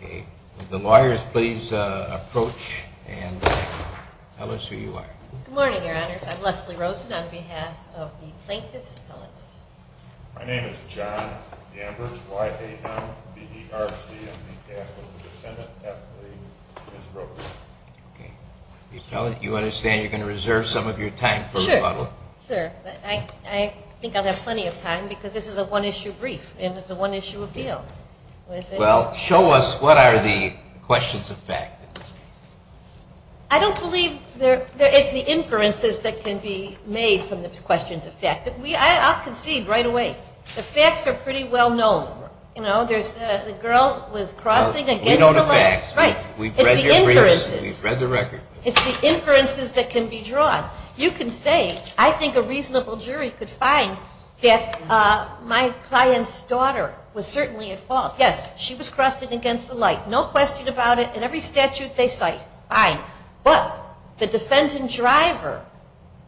Will the lawyers please approach and tell us who you are? Good morning, Your Honors. I'm Leslie Rosen on behalf of the Plaintiffs' Appellants. My name is John Ambers, Y-A-M-B-E-R-C, and on behalf of the defendant, Beth Lee, Ms. Rosen. Okay. The appellant, you understand you're going to reserve some of your time for rebuttal? Sure. Sure. I think I'll have plenty of time because this is a one-issue brief, and it's a one-issue appeal. Well, show us what are the questions of fact in this case? I don't believe there is the inferences that can be made from the questions of fact. I'll concede right away. The facts are pretty well known. You know, the girl was crossing against the light. We know the facts. We've read your briefs. It's the inferences. We've read the record. It's the inferences that can be drawn. You can say, I think a reasonable jury could find that my client's daughter was certainly at fault. Yes, she was crossing against the light. No question about it. In every statute they cite, fine. But the defendant driver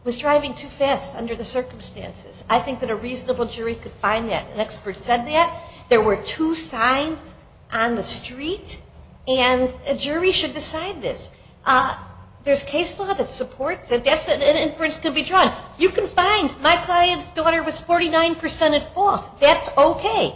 was driving too fast under the circumstances. I think that a reasonable jury could find that. An expert said that. There were two signs on the street, and a jury should decide this. There's case law that supports it. Yes, an inference can be drawn. You can find my client's daughter was 49% at fault. That's okay.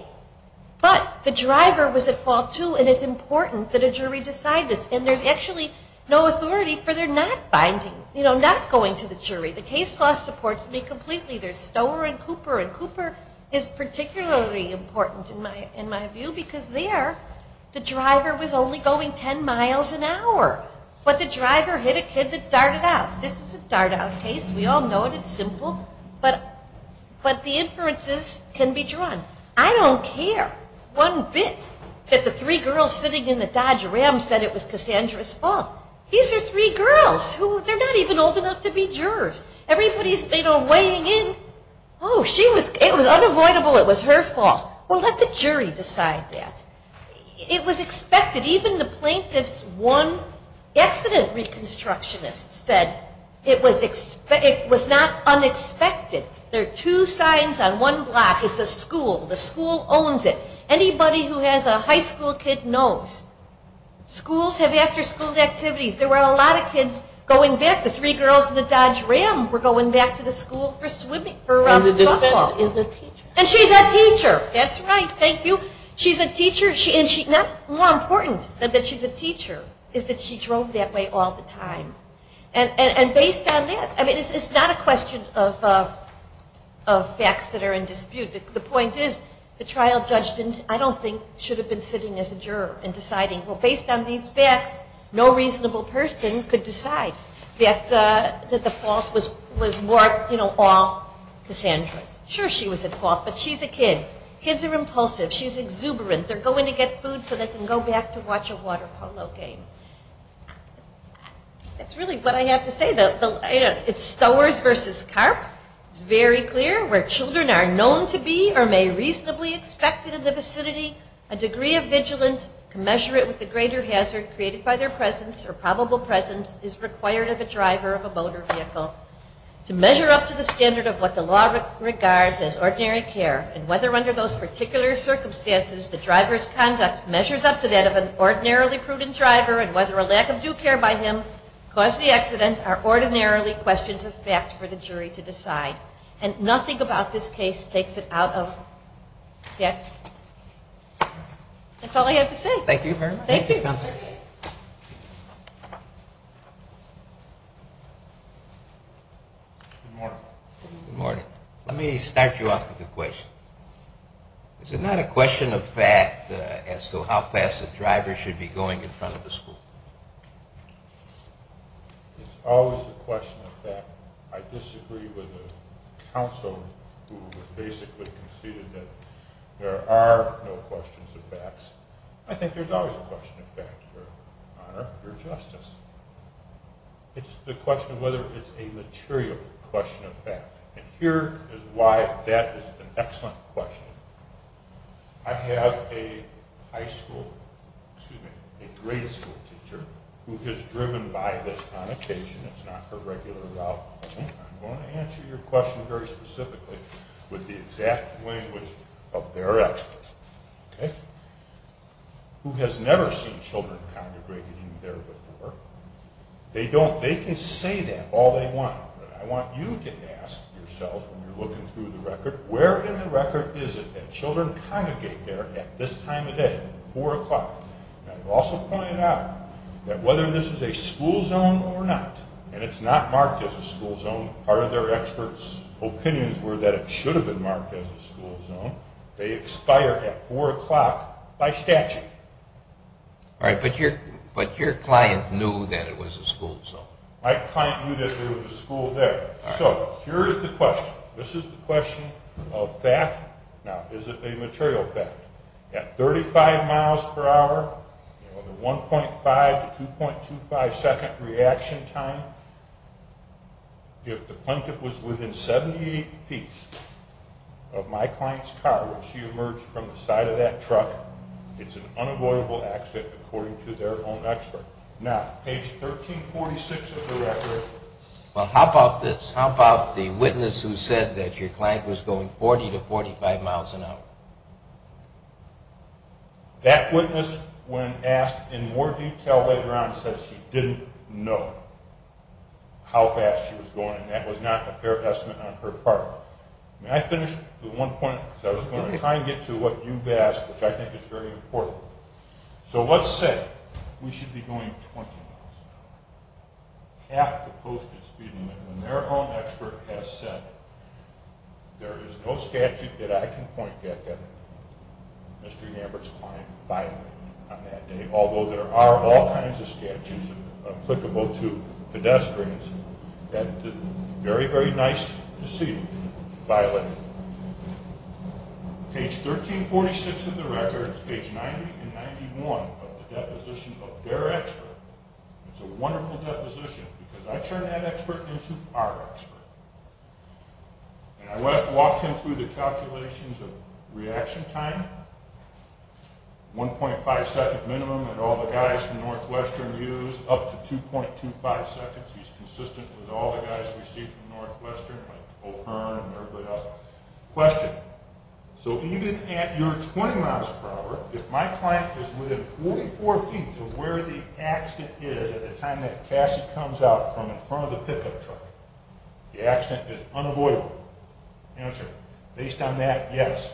But the driver was at fault, too, and it's important that a jury decide this. And there's actually no authority for their not finding, you know, not going to the jury. The case law supports me completely. There's Stower and Cooper, and Cooper is particularly important in my view because there the driver was only going 10 miles an hour. But the driver hit a kid that darted out. This is a dart-out case. We all know it. It's simple. But the inferences can be drawn. I don't care one bit that the three girls sitting in the Dodge Ram said it was Cassandra's fault. These are three girls. They're not even old enough to be jurors. Everybody's, you know, weighing in. Oh, it was unavoidable. It was her fault. Well, let the jury decide that. It was expected. Even the plaintiff's one accident reconstructionist said it was not unexpected. There are two signs on one block. It's a school. The school owns it. Anybody who has a high school kid knows. Schools have after-school activities. There were a lot of kids going back. The three girls in the Dodge Ram were going back to the school for football. And the defendant is a teacher. And she's a teacher. That's right. Thank you. She's a teacher. And more important than that she's a teacher is that she drove that way all the time. And based on that, I mean, it's not a question of facts that are in dispute. The point is the trial judge, I don't think, should have been sitting as a juror and deciding, well, based on these facts, no reasonable person could decide that the fault was, you know, all Cassandra's. Sure, she was at fault, but she's a kid. Kids are impulsive. She's exuberant. They're going to get food so they can go back to watch a water polo game. That's really what I have to say. It's Stowers v. Karp. It's very clear. Where children are known to be or may reasonably expect it in the vicinity, a degree of vigilance to measure it with the greater hazard created by their presence or probable presence is required of a driver of a motor vehicle. To measure up to the standard of what the law regards as ordinary care and whether under those particular circumstances the driver's conduct measures up to that of an ordinarily prudent driver and whether a lack of due care by him caused the accident are ordinarily questions of fact for the jury to decide. And nothing about this case takes it out of that. That's all I have to say. Thank you very much. Thank you. Good morning. Good morning. Let me start you off with a question. Is it not a question of fact as to how fast a driver should be going in front of a school? It's always a question of fact. I disagree with the counsel who has basically conceded that there are no questions of facts. I think there's always a question of fact, Your Honor, Your Justice. It's the question of whether it's a material question of fact. And here is why that is an excellent question. I have a high school, excuse me, a grade school teacher who has driven by this connotation. It's not her regular route. I'm going to answer your question very specifically with the exact language of their experts, okay, who has never seen children congregated in there before. They can say that all they want. I want you to ask yourselves when you're looking through the record, where in the record is it that children congregate there at this time of day, 4 o'clock? I also pointed out that whether this is a school zone or not, and it's not marked as a school zone, part of their experts' opinions were that it should have been marked as a school zone. They expire at 4 o'clock by statute. All right, but your client knew that it was a school zone. My client knew that there was a school there. So here is the question. This is the question of fact. Now, is it a material fact? At 35 miles per hour, the 1.5 to 2.25 second reaction time, if the plaintiff was within 78 feet of my client's car when she emerged from the side of that truck, it's an unavoidable accident according to their own expert. Now, page 1346 of the record. Well, how about this? How about the witness who said that your client was going 40 to 45 miles an hour? That witness, when asked in more detail later on, said she didn't know how fast she was going. That was not a fair estimate on her part. May I finish with one point? I was going to try and get to what you've asked, which I think is very important. So let's say we should be going 20 miles an hour, half the posted speed limit, and their own expert has said there is no statute that I can point at that Mr. Hambert's client violated on that day, although there are all kinds of statutes applicable to pedestrians that it's very, very nice to see violated. Page 1346 of the record is page 90 and 91 of the deposition of their expert. It's a wonderful deposition because I turned that expert into our expert. And I walked him through the calculations of reaction time, 1.5 second minimum that all the guys from Northwestern use up to 2.25 seconds. He's consistent with all the guys we see from Northwestern, like O'Hearn and everybody else. Question. So even at your 20 miles per hour, if my client is within 44 feet of where the accident is at the time that Cassie comes out from in front of the pickup truck, the accident is unavoidable. Answer. Based on that, yes.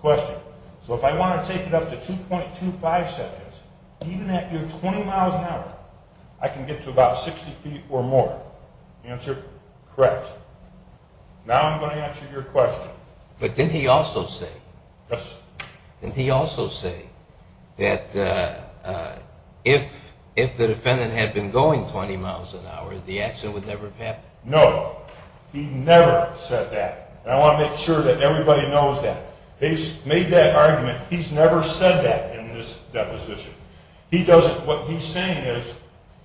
Question. So if I want to take it up to 2.25 seconds, even at your 20 miles an hour, I can get to about 60 feet or more. Answer. Correct. Now I'm going to answer your question. But didn't he also say? Yes. Didn't he also say that if the defendant had been going 20 miles an hour, the accident would never have happened? No. He never said that. And I want to make sure that everybody knows that. He's made that argument. He's never said that in this deposition. What he's saying is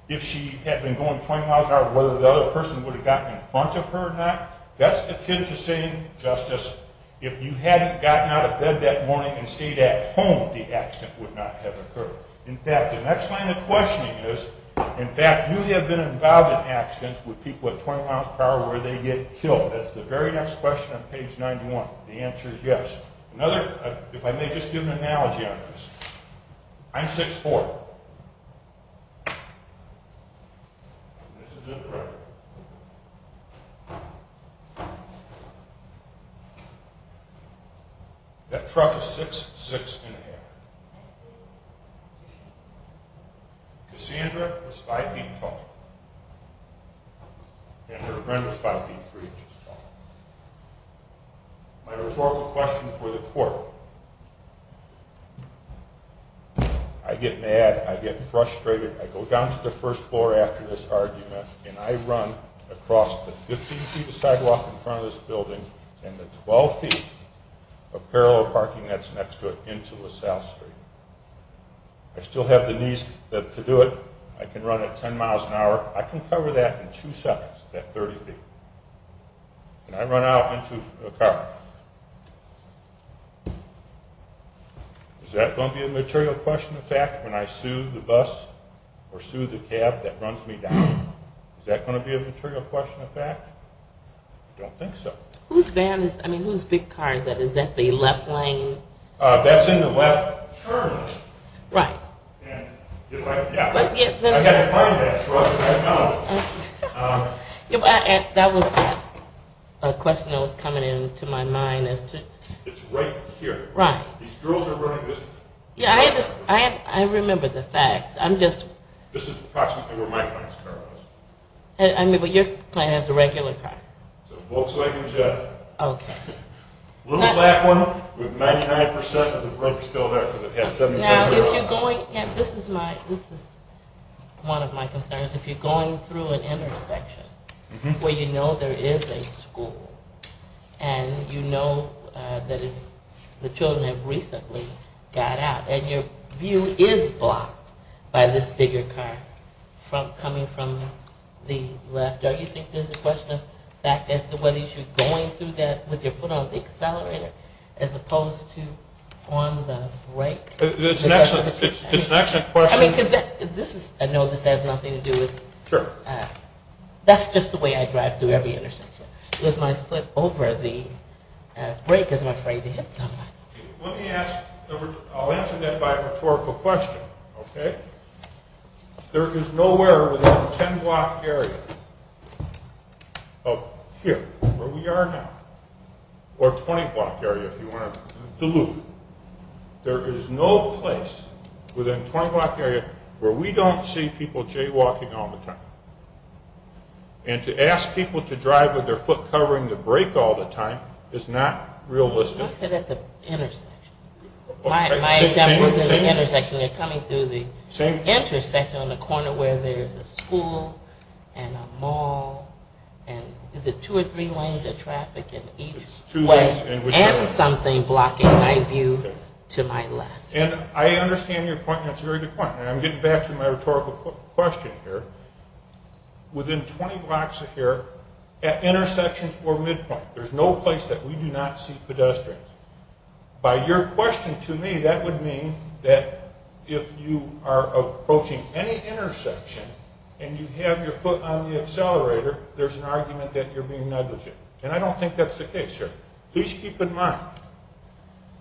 if she had been going 20 miles an hour, whether the other person would have gotten in front of her or not, that's akin to saying, Justice, if you hadn't gotten out of bed that morning and stayed at home, the accident would not have occurred. In fact, the next line of questioning is, in fact, you have been involved in accidents with people at 20 miles per hour where they get killed. That's the very next question on page 91. The answer is yes. If I may just do an analogy on this. I'm 6'4". That truck is 6'6". Cassandra is 5 feet tall. And her friend is 5 feet 3 inches tall. My rhetorical question for the court. I get mad. I get frustrated. I go down to the first floor after this argument, and I run across the 15-feet sidewalk in front of this building and the 12 feet of parallel parking that's next to it into LaSalle Street. I still have the knees to do it. I can run at 10 miles an hour. I can cover that in two seconds, that 30 feet. And I run out into a car. Is that going to be a material question of fact when I sue the bus or sue the cab that runs me down? Is that going to be a material question of fact? I don't think so. Whose van is that? I mean, whose big car is that? Is that the left lane? That's in the left turn. Right. Yeah. That was a question that was coming into my mind. It's right here. Right. These girls are running this. Yeah, I remember the facts. I'm just... This is approximately where my client's car is. I mean, but your client has a regular car. It's a Volkswagen Jett. Okay. A little black one with 99% of the brakes still there because it has 77 miles. Now, if you're going... This is one of my concerns. If you're going through an intersection where you know there is a school and you know that the children have recently got out and your view is blocked by this bigger car coming from the left, don't you think there's a question of fact as to whether you should be going through that with your foot on the accelerator as opposed to on the brake? It's an excellent question. I mean, because this is... I know this has nothing to do with... Sure. That's just the way I drive through every intersection with my foot over the brake because I'm afraid to hit someone. Let me ask... I'll answer that by a rhetorical question, okay? There is nowhere within a 10-block area of here where we are now, or a 20-block area if you want to delude. There is no place within a 20-block area where we don't see people jaywalking all the time. And to ask people to drive with their foot covering the brake all the time is not realistic. I said at the intersection. My example is at the intersection. You're coming through the intersection on the corner where there is a school and a mall and is it two or three lanes of traffic in each way and something blocking my view to my left. I understand your point, and it's a very good point. I'm getting back to my rhetorical question here. Within 20 blocks of here, at intersections or midpoint, there's no place that we do not see pedestrians. By your question to me, that would mean that if you are approaching any intersection and you have your foot on the accelerator, there's an argument that you're being negligent. And I don't think that's the case here. Please keep in mind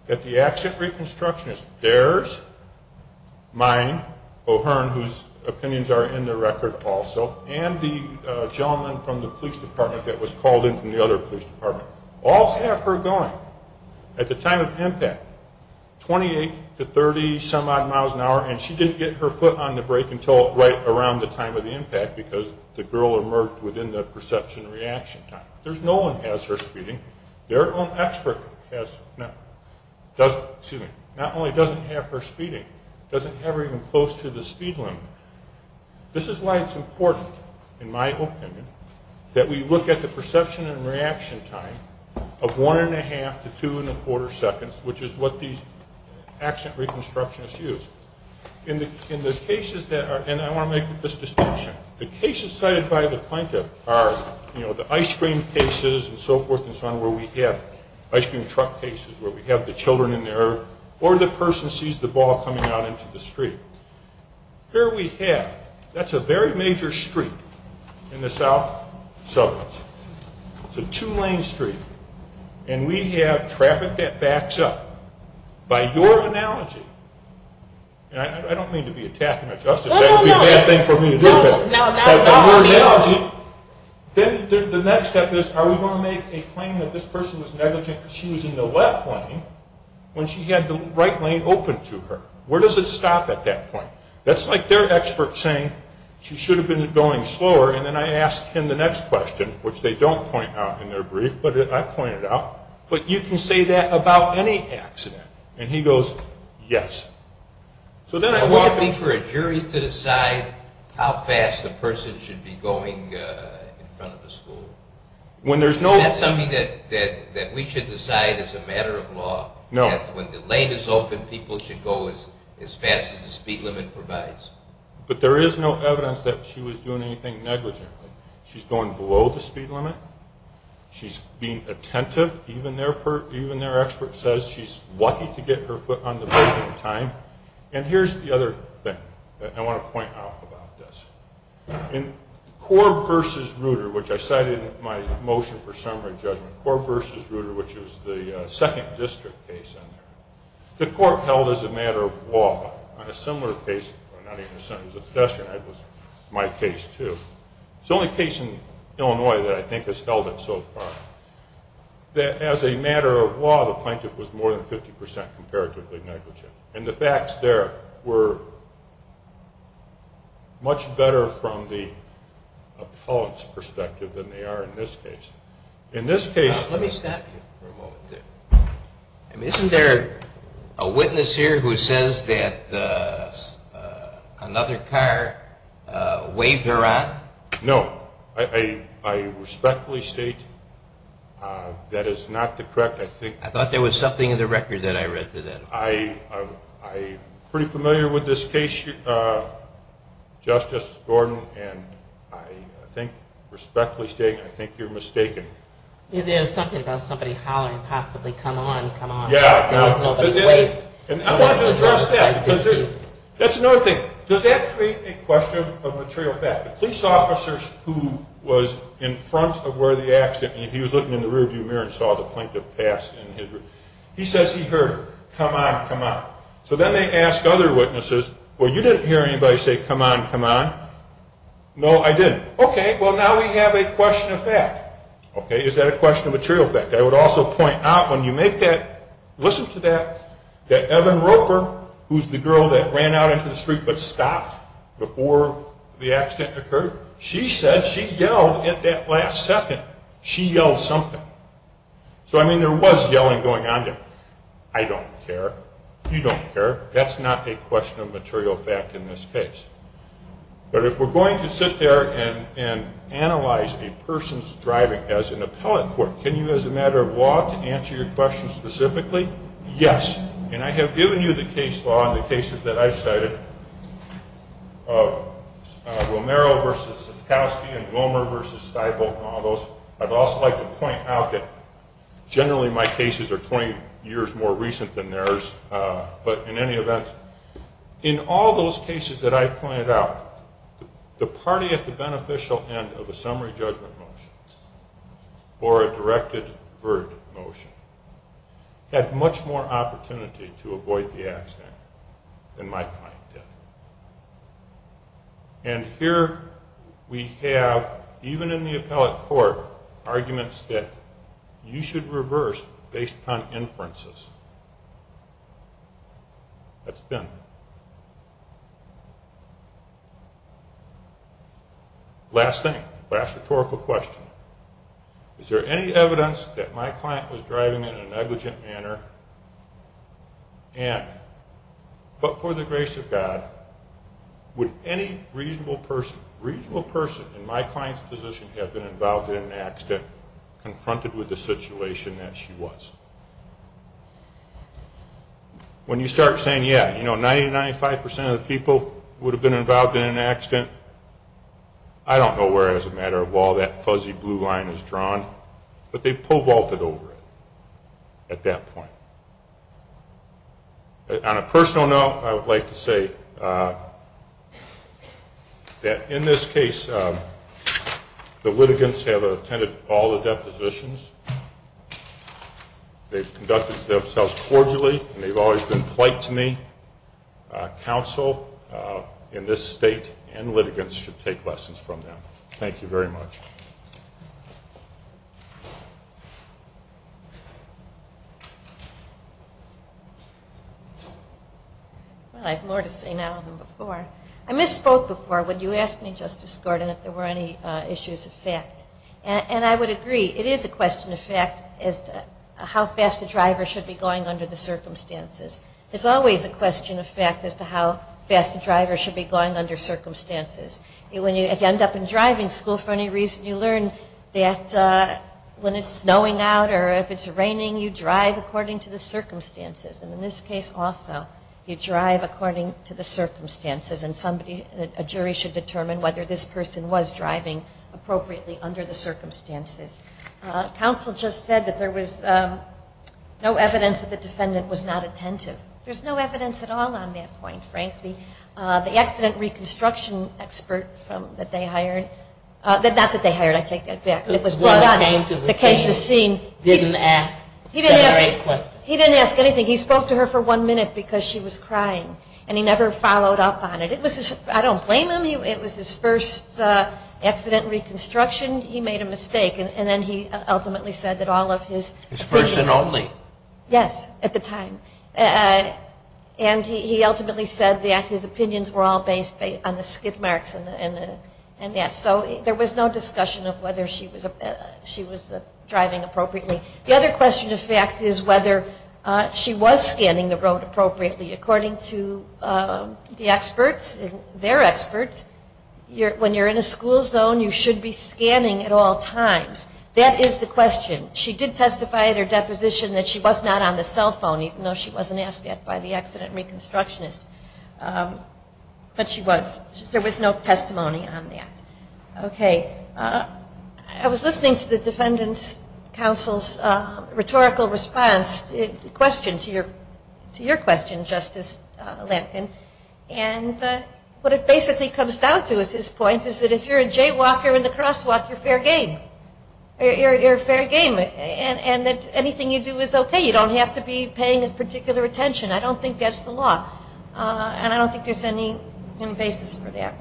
that the accident reconstructionist, there's mine, O'Hearn, whose opinions are in the record also, and the gentleman from the police department that was called in from the other police department, all have her going at the time of impact, 28 to 30-some-odd miles an hour, and she didn't get her foot on the brake until right around the time of the impact because the girl emerged within the perception reaction time. No one has her speeding. Their own expert not only doesn't have her speeding, doesn't have her even close to the speed limit. This is why it's important, in my opinion, that we look at the perception and reaction time of one-and-a-half to two-and-a-quarter seconds, which is what these accident reconstructionists use. In the cases that are, and I want to make this distinction, the cases cited by the plaintiff are, you know, the ice cream cases and so forth and so on where we have ice cream truck cases where we have the children in there or the person sees the ball coming out into the street. Here we have, that's a very major street in the south suburbs. It's a two-lane street, and we have traffic that backs up. By your analogy, and I don't mean to be attacking her justice. That would be a bad thing for me to do, but by your analogy, then the next step is are we going to make a claim that this person was negligent because she was in the left lane when she had the right lane open to her? Where does it stop at that point? That's like their expert saying she should have been going slower, and then I ask him the next question, which they don't point out in their brief, but I point it out, but you can say that about any accident. And he goes, yes. Would it be for a jury to decide how fast a person should be going in front of a school? Is that something that we should decide as a matter of law? No. When the lane is open, people should go as fast as the speed limit provides. But there is no evidence that she was doing anything negligently. She's going below the speed limit. She's being attentive. Even their expert says she's lucky to get her foot on the brake in time. And here's the other thing that I want to point out about this. In Corb v. Ruder, which I cited in my motion for summary judgment, Corb v. Ruder, which is the second district case in there, the court held as a matter of law on a similar case, not even a sentence of pedestrian, that was my case too. It's the only case in Illinois that I think has held it so far. That as a matter of law, the plaintiff was more than 50% comparatively negligent. And the facts there were much better from the appellant's perspective than they are in this case. In this case... Let me stop you for a moment there. I mean, isn't there a witness here who says that another car waved her on? No. I respectfully state that is not the correct... I thought there was something in the record that I read today. I'm pretty familiar with this case, Justice Gordon, and I think respectfully stating I think you're mistaken. There's something about somebody hollering possibly, come on, come on. Yeah. I wanted to address that. That's another thing. Does that create a question of material fact? The police officers who was in front of where the accident... He was looking in the rearview mirror and saw the plaintiff pass in his... He says he heard her, come on, come on. So then they ask other witnesses, well, you didn't hear anybody say come on, come on. No, I didn't. Okay, well, now we have a question of fact. Is that a question of material fact? I would also point out when you make that, listen to that, that Evan Roper, who's the girl that ran out into the street but stopped before the accident occurred, she said she yelled at that last second. She yelled something. So, I mean, there was yelling going on there. I don't care. You don't care. That's not a question of material fact in this case. But if we're going to sit there and analyze a person's driving as an appellate court, can you, as a matter of law, answer your question specifically? Yes. And I have given you the case law in the cases that I've cited, Romero v. Sikowsky and Glomer v. Stifel and all those. I'd also like to point out that generally my cases are 20 years more recent than theirs. But in any event, in all those cases that I've pointed out, the party at the beneficial end of a summary judgment motion or a directed verdict motion had much more opportunity to avoid the accident than my client did. And here we have, even in the appellate court, arguments that you should reverse based upon inferences. That's been. Last thing. Last rhetorical question. Is there any evidence that my client was driving in a negligent manner? And, but for the grace of God, would any reasonable person in my client's position have been involved in an accident confronted with the situation that she was? When you start saying, yeah, you know, 90 to 95 percent of the people would have been involved in an accident. I don't know where, as a matter of law, that fuzzy blue line is drawn. But they po-vaulted over it at that point. On a personal note, I would like to say that in this case, the litigants have attended all the depositions. They've conducted themselves cordially, and they've always been polite to me. Counsel in this state and litigants should take lessons from them. Thank you very much. Well, I have more to say now than before. I misspoke before when you asked me, Justice Gordon, if there were any issues of fact. And I would agree. It is a question of fact as to how fast a driver should be going under the circumstances. There's always a question of fact as to how fast a driver should be going under circumstances. If you end up in driving school for any reason, you learn that when it's snowing out or if it's raining, you drive according to the circumstances. And in this case also, you drive according to the circumstances. And a jury should determine whether this person was driving appropriately under the circumstances. Counsel just said that there was no evidence that the defendant was not attentive. There's no evidence at all on that point, frankly. The accident reconstruction expert that they hired, not that they hired. I take that back. It was brought up. The one who came to the scene didn't ask. He didn't ask anything. He spoke to her for one minute because she was crying. And he never followed up on it. I don't blame him. It was his first accident reconstruction. He made a mistake. And then he ultimately said that all of his. His first and only. Yes, at the time. And he ultimately said that his opinions were all based on the skid marks and that. So there was no discussion of whether she was driving appropriately. The other question, in fact, is whether she was scanning the road appropriately. According to the experts, their experts, when you're in a school zone, you should be scanning at all times. That is the question. She did testify at her deposition that she was not on the cell phone, even though she wasn't asked yet by the accident reconstructionist. But she was. There was no testimony on that. Okay. I was listening to the defendant's counsel's rhetorical response to the question, to your question, Justice Lampkin. And what it basically comes down to is his point is that if you're a jaywalker in the crosswalk, you're fair game. You're fair game. And that anything you do is okay. You don't have to be paying particular attention. I don't think that's the law. And I don't think there's any basis for that.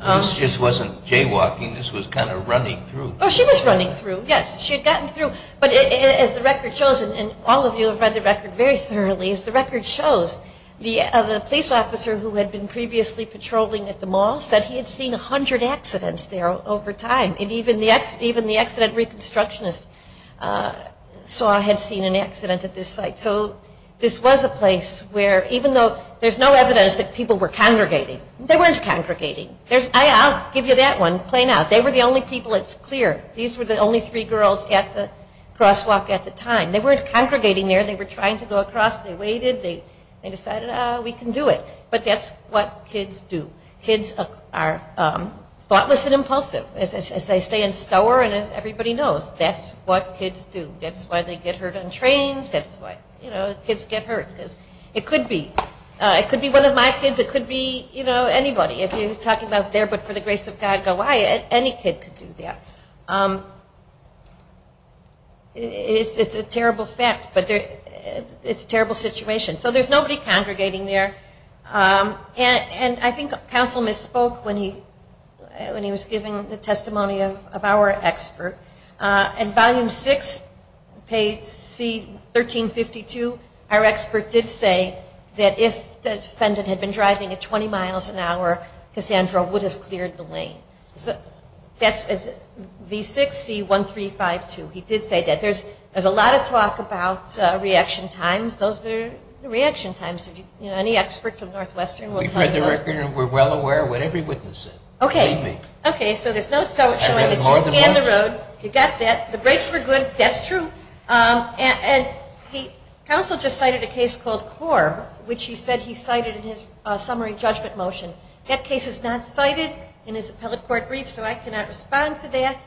This just wasn't jaywalking. This was kind of running through. Oh, she was running through, yes. She had gotten through. But as the record shows, and all of you have read the record very thoroughly, as the record shows, the police officer who had been previously patrolling at the mall said he had seen 100 accidents there over time. And even the accident reconstructionist saw had seen an accident at this site. So this was a place where even though there's no evidence that people were congregating, they weren't congregating. I'll give you that one plain out. They were the only people, it's clear, these were the only three girls at the crosswalk at the time. They weren't congregating there. They were trying to go across. They waited. They decided, oh, we can do it. But that's what kids do. Kids are thoughtless and impulsive. As they say in Stower and as everybody knows, that's what kids do. That's why they get hurt on trains. That's why, you know, kids get hurt. It could be. It could be one of my kids. It could be, you know, anybody. If you're talking about there but for the grace of God Goliath, any kid could do that. It's a terrible fact. But it's a terrible situation. So there's nobody congregating there. And I think counsel misspoke when he was giving the testimony of our expert. In volume 6, page C1352, our expert did say that if the defendant had been driving at 20 miles an hour, Cassandra would have cleared the lane. That's V6C1352. He did say that. There's a lot of talk about reaction times. Those are reaction times. Any expert from Northwestern will tell you those. We've read the record and we're well aware of whatever he witnesses. Okay. Okay. So there's no showing that you scanned the road. You got that. The brakes were good. That's true. And counsel just cited a case called Corb, which he said he cited in his summary judgment motion. That case is not cited in his appellate court brief, so I cannot respond to that.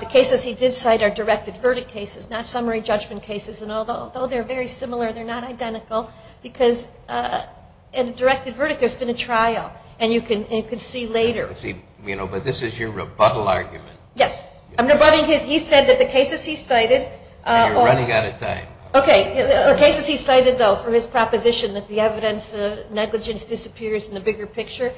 The cases he did cite are directed verdict cases, not summary judgment cases, and although they're very similar, they're not identical because in a directed verdict, there's been a trial, and you can see later. But this is your rebuttal argument. Yes. I'm rebutting his. He said that the cases he cited. You're running out of time. Okay. The cases he cited, though, for his proposition that the evidence of negligence disappears in the bigger picture,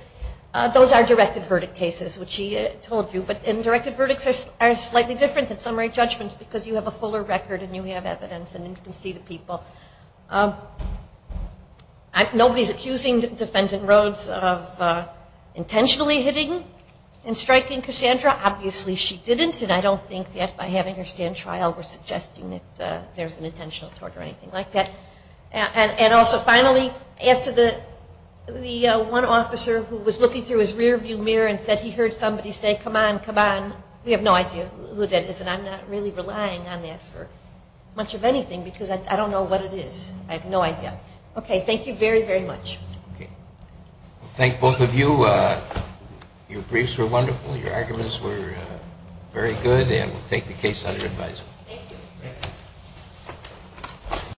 those are directed verdict cases, which he told you. But directed verdicts are slightly different than summary judgments because you have a fuller record and you have evidence and you can see the people. Nobody's accusing Defendant Rhodes of intentionally hitting and striking Cassandra. Obviously she didn't, and I don't think that by having her stand trial we're suggesting that there's an intentional tort or anything like that. And also, finally, as to the one officer who was looking through his rearview mirror and said he heard somebody say, come on, come on, we have no idea who that is, and I'm not really relying on that for much of anything because I don't know what it is. I have no idea. Okay. Thank you very, very much. Okay. Thank both of you. Your briefs were wonderful. Your arguments were very good, and we'll take the case under advisement. Thank you.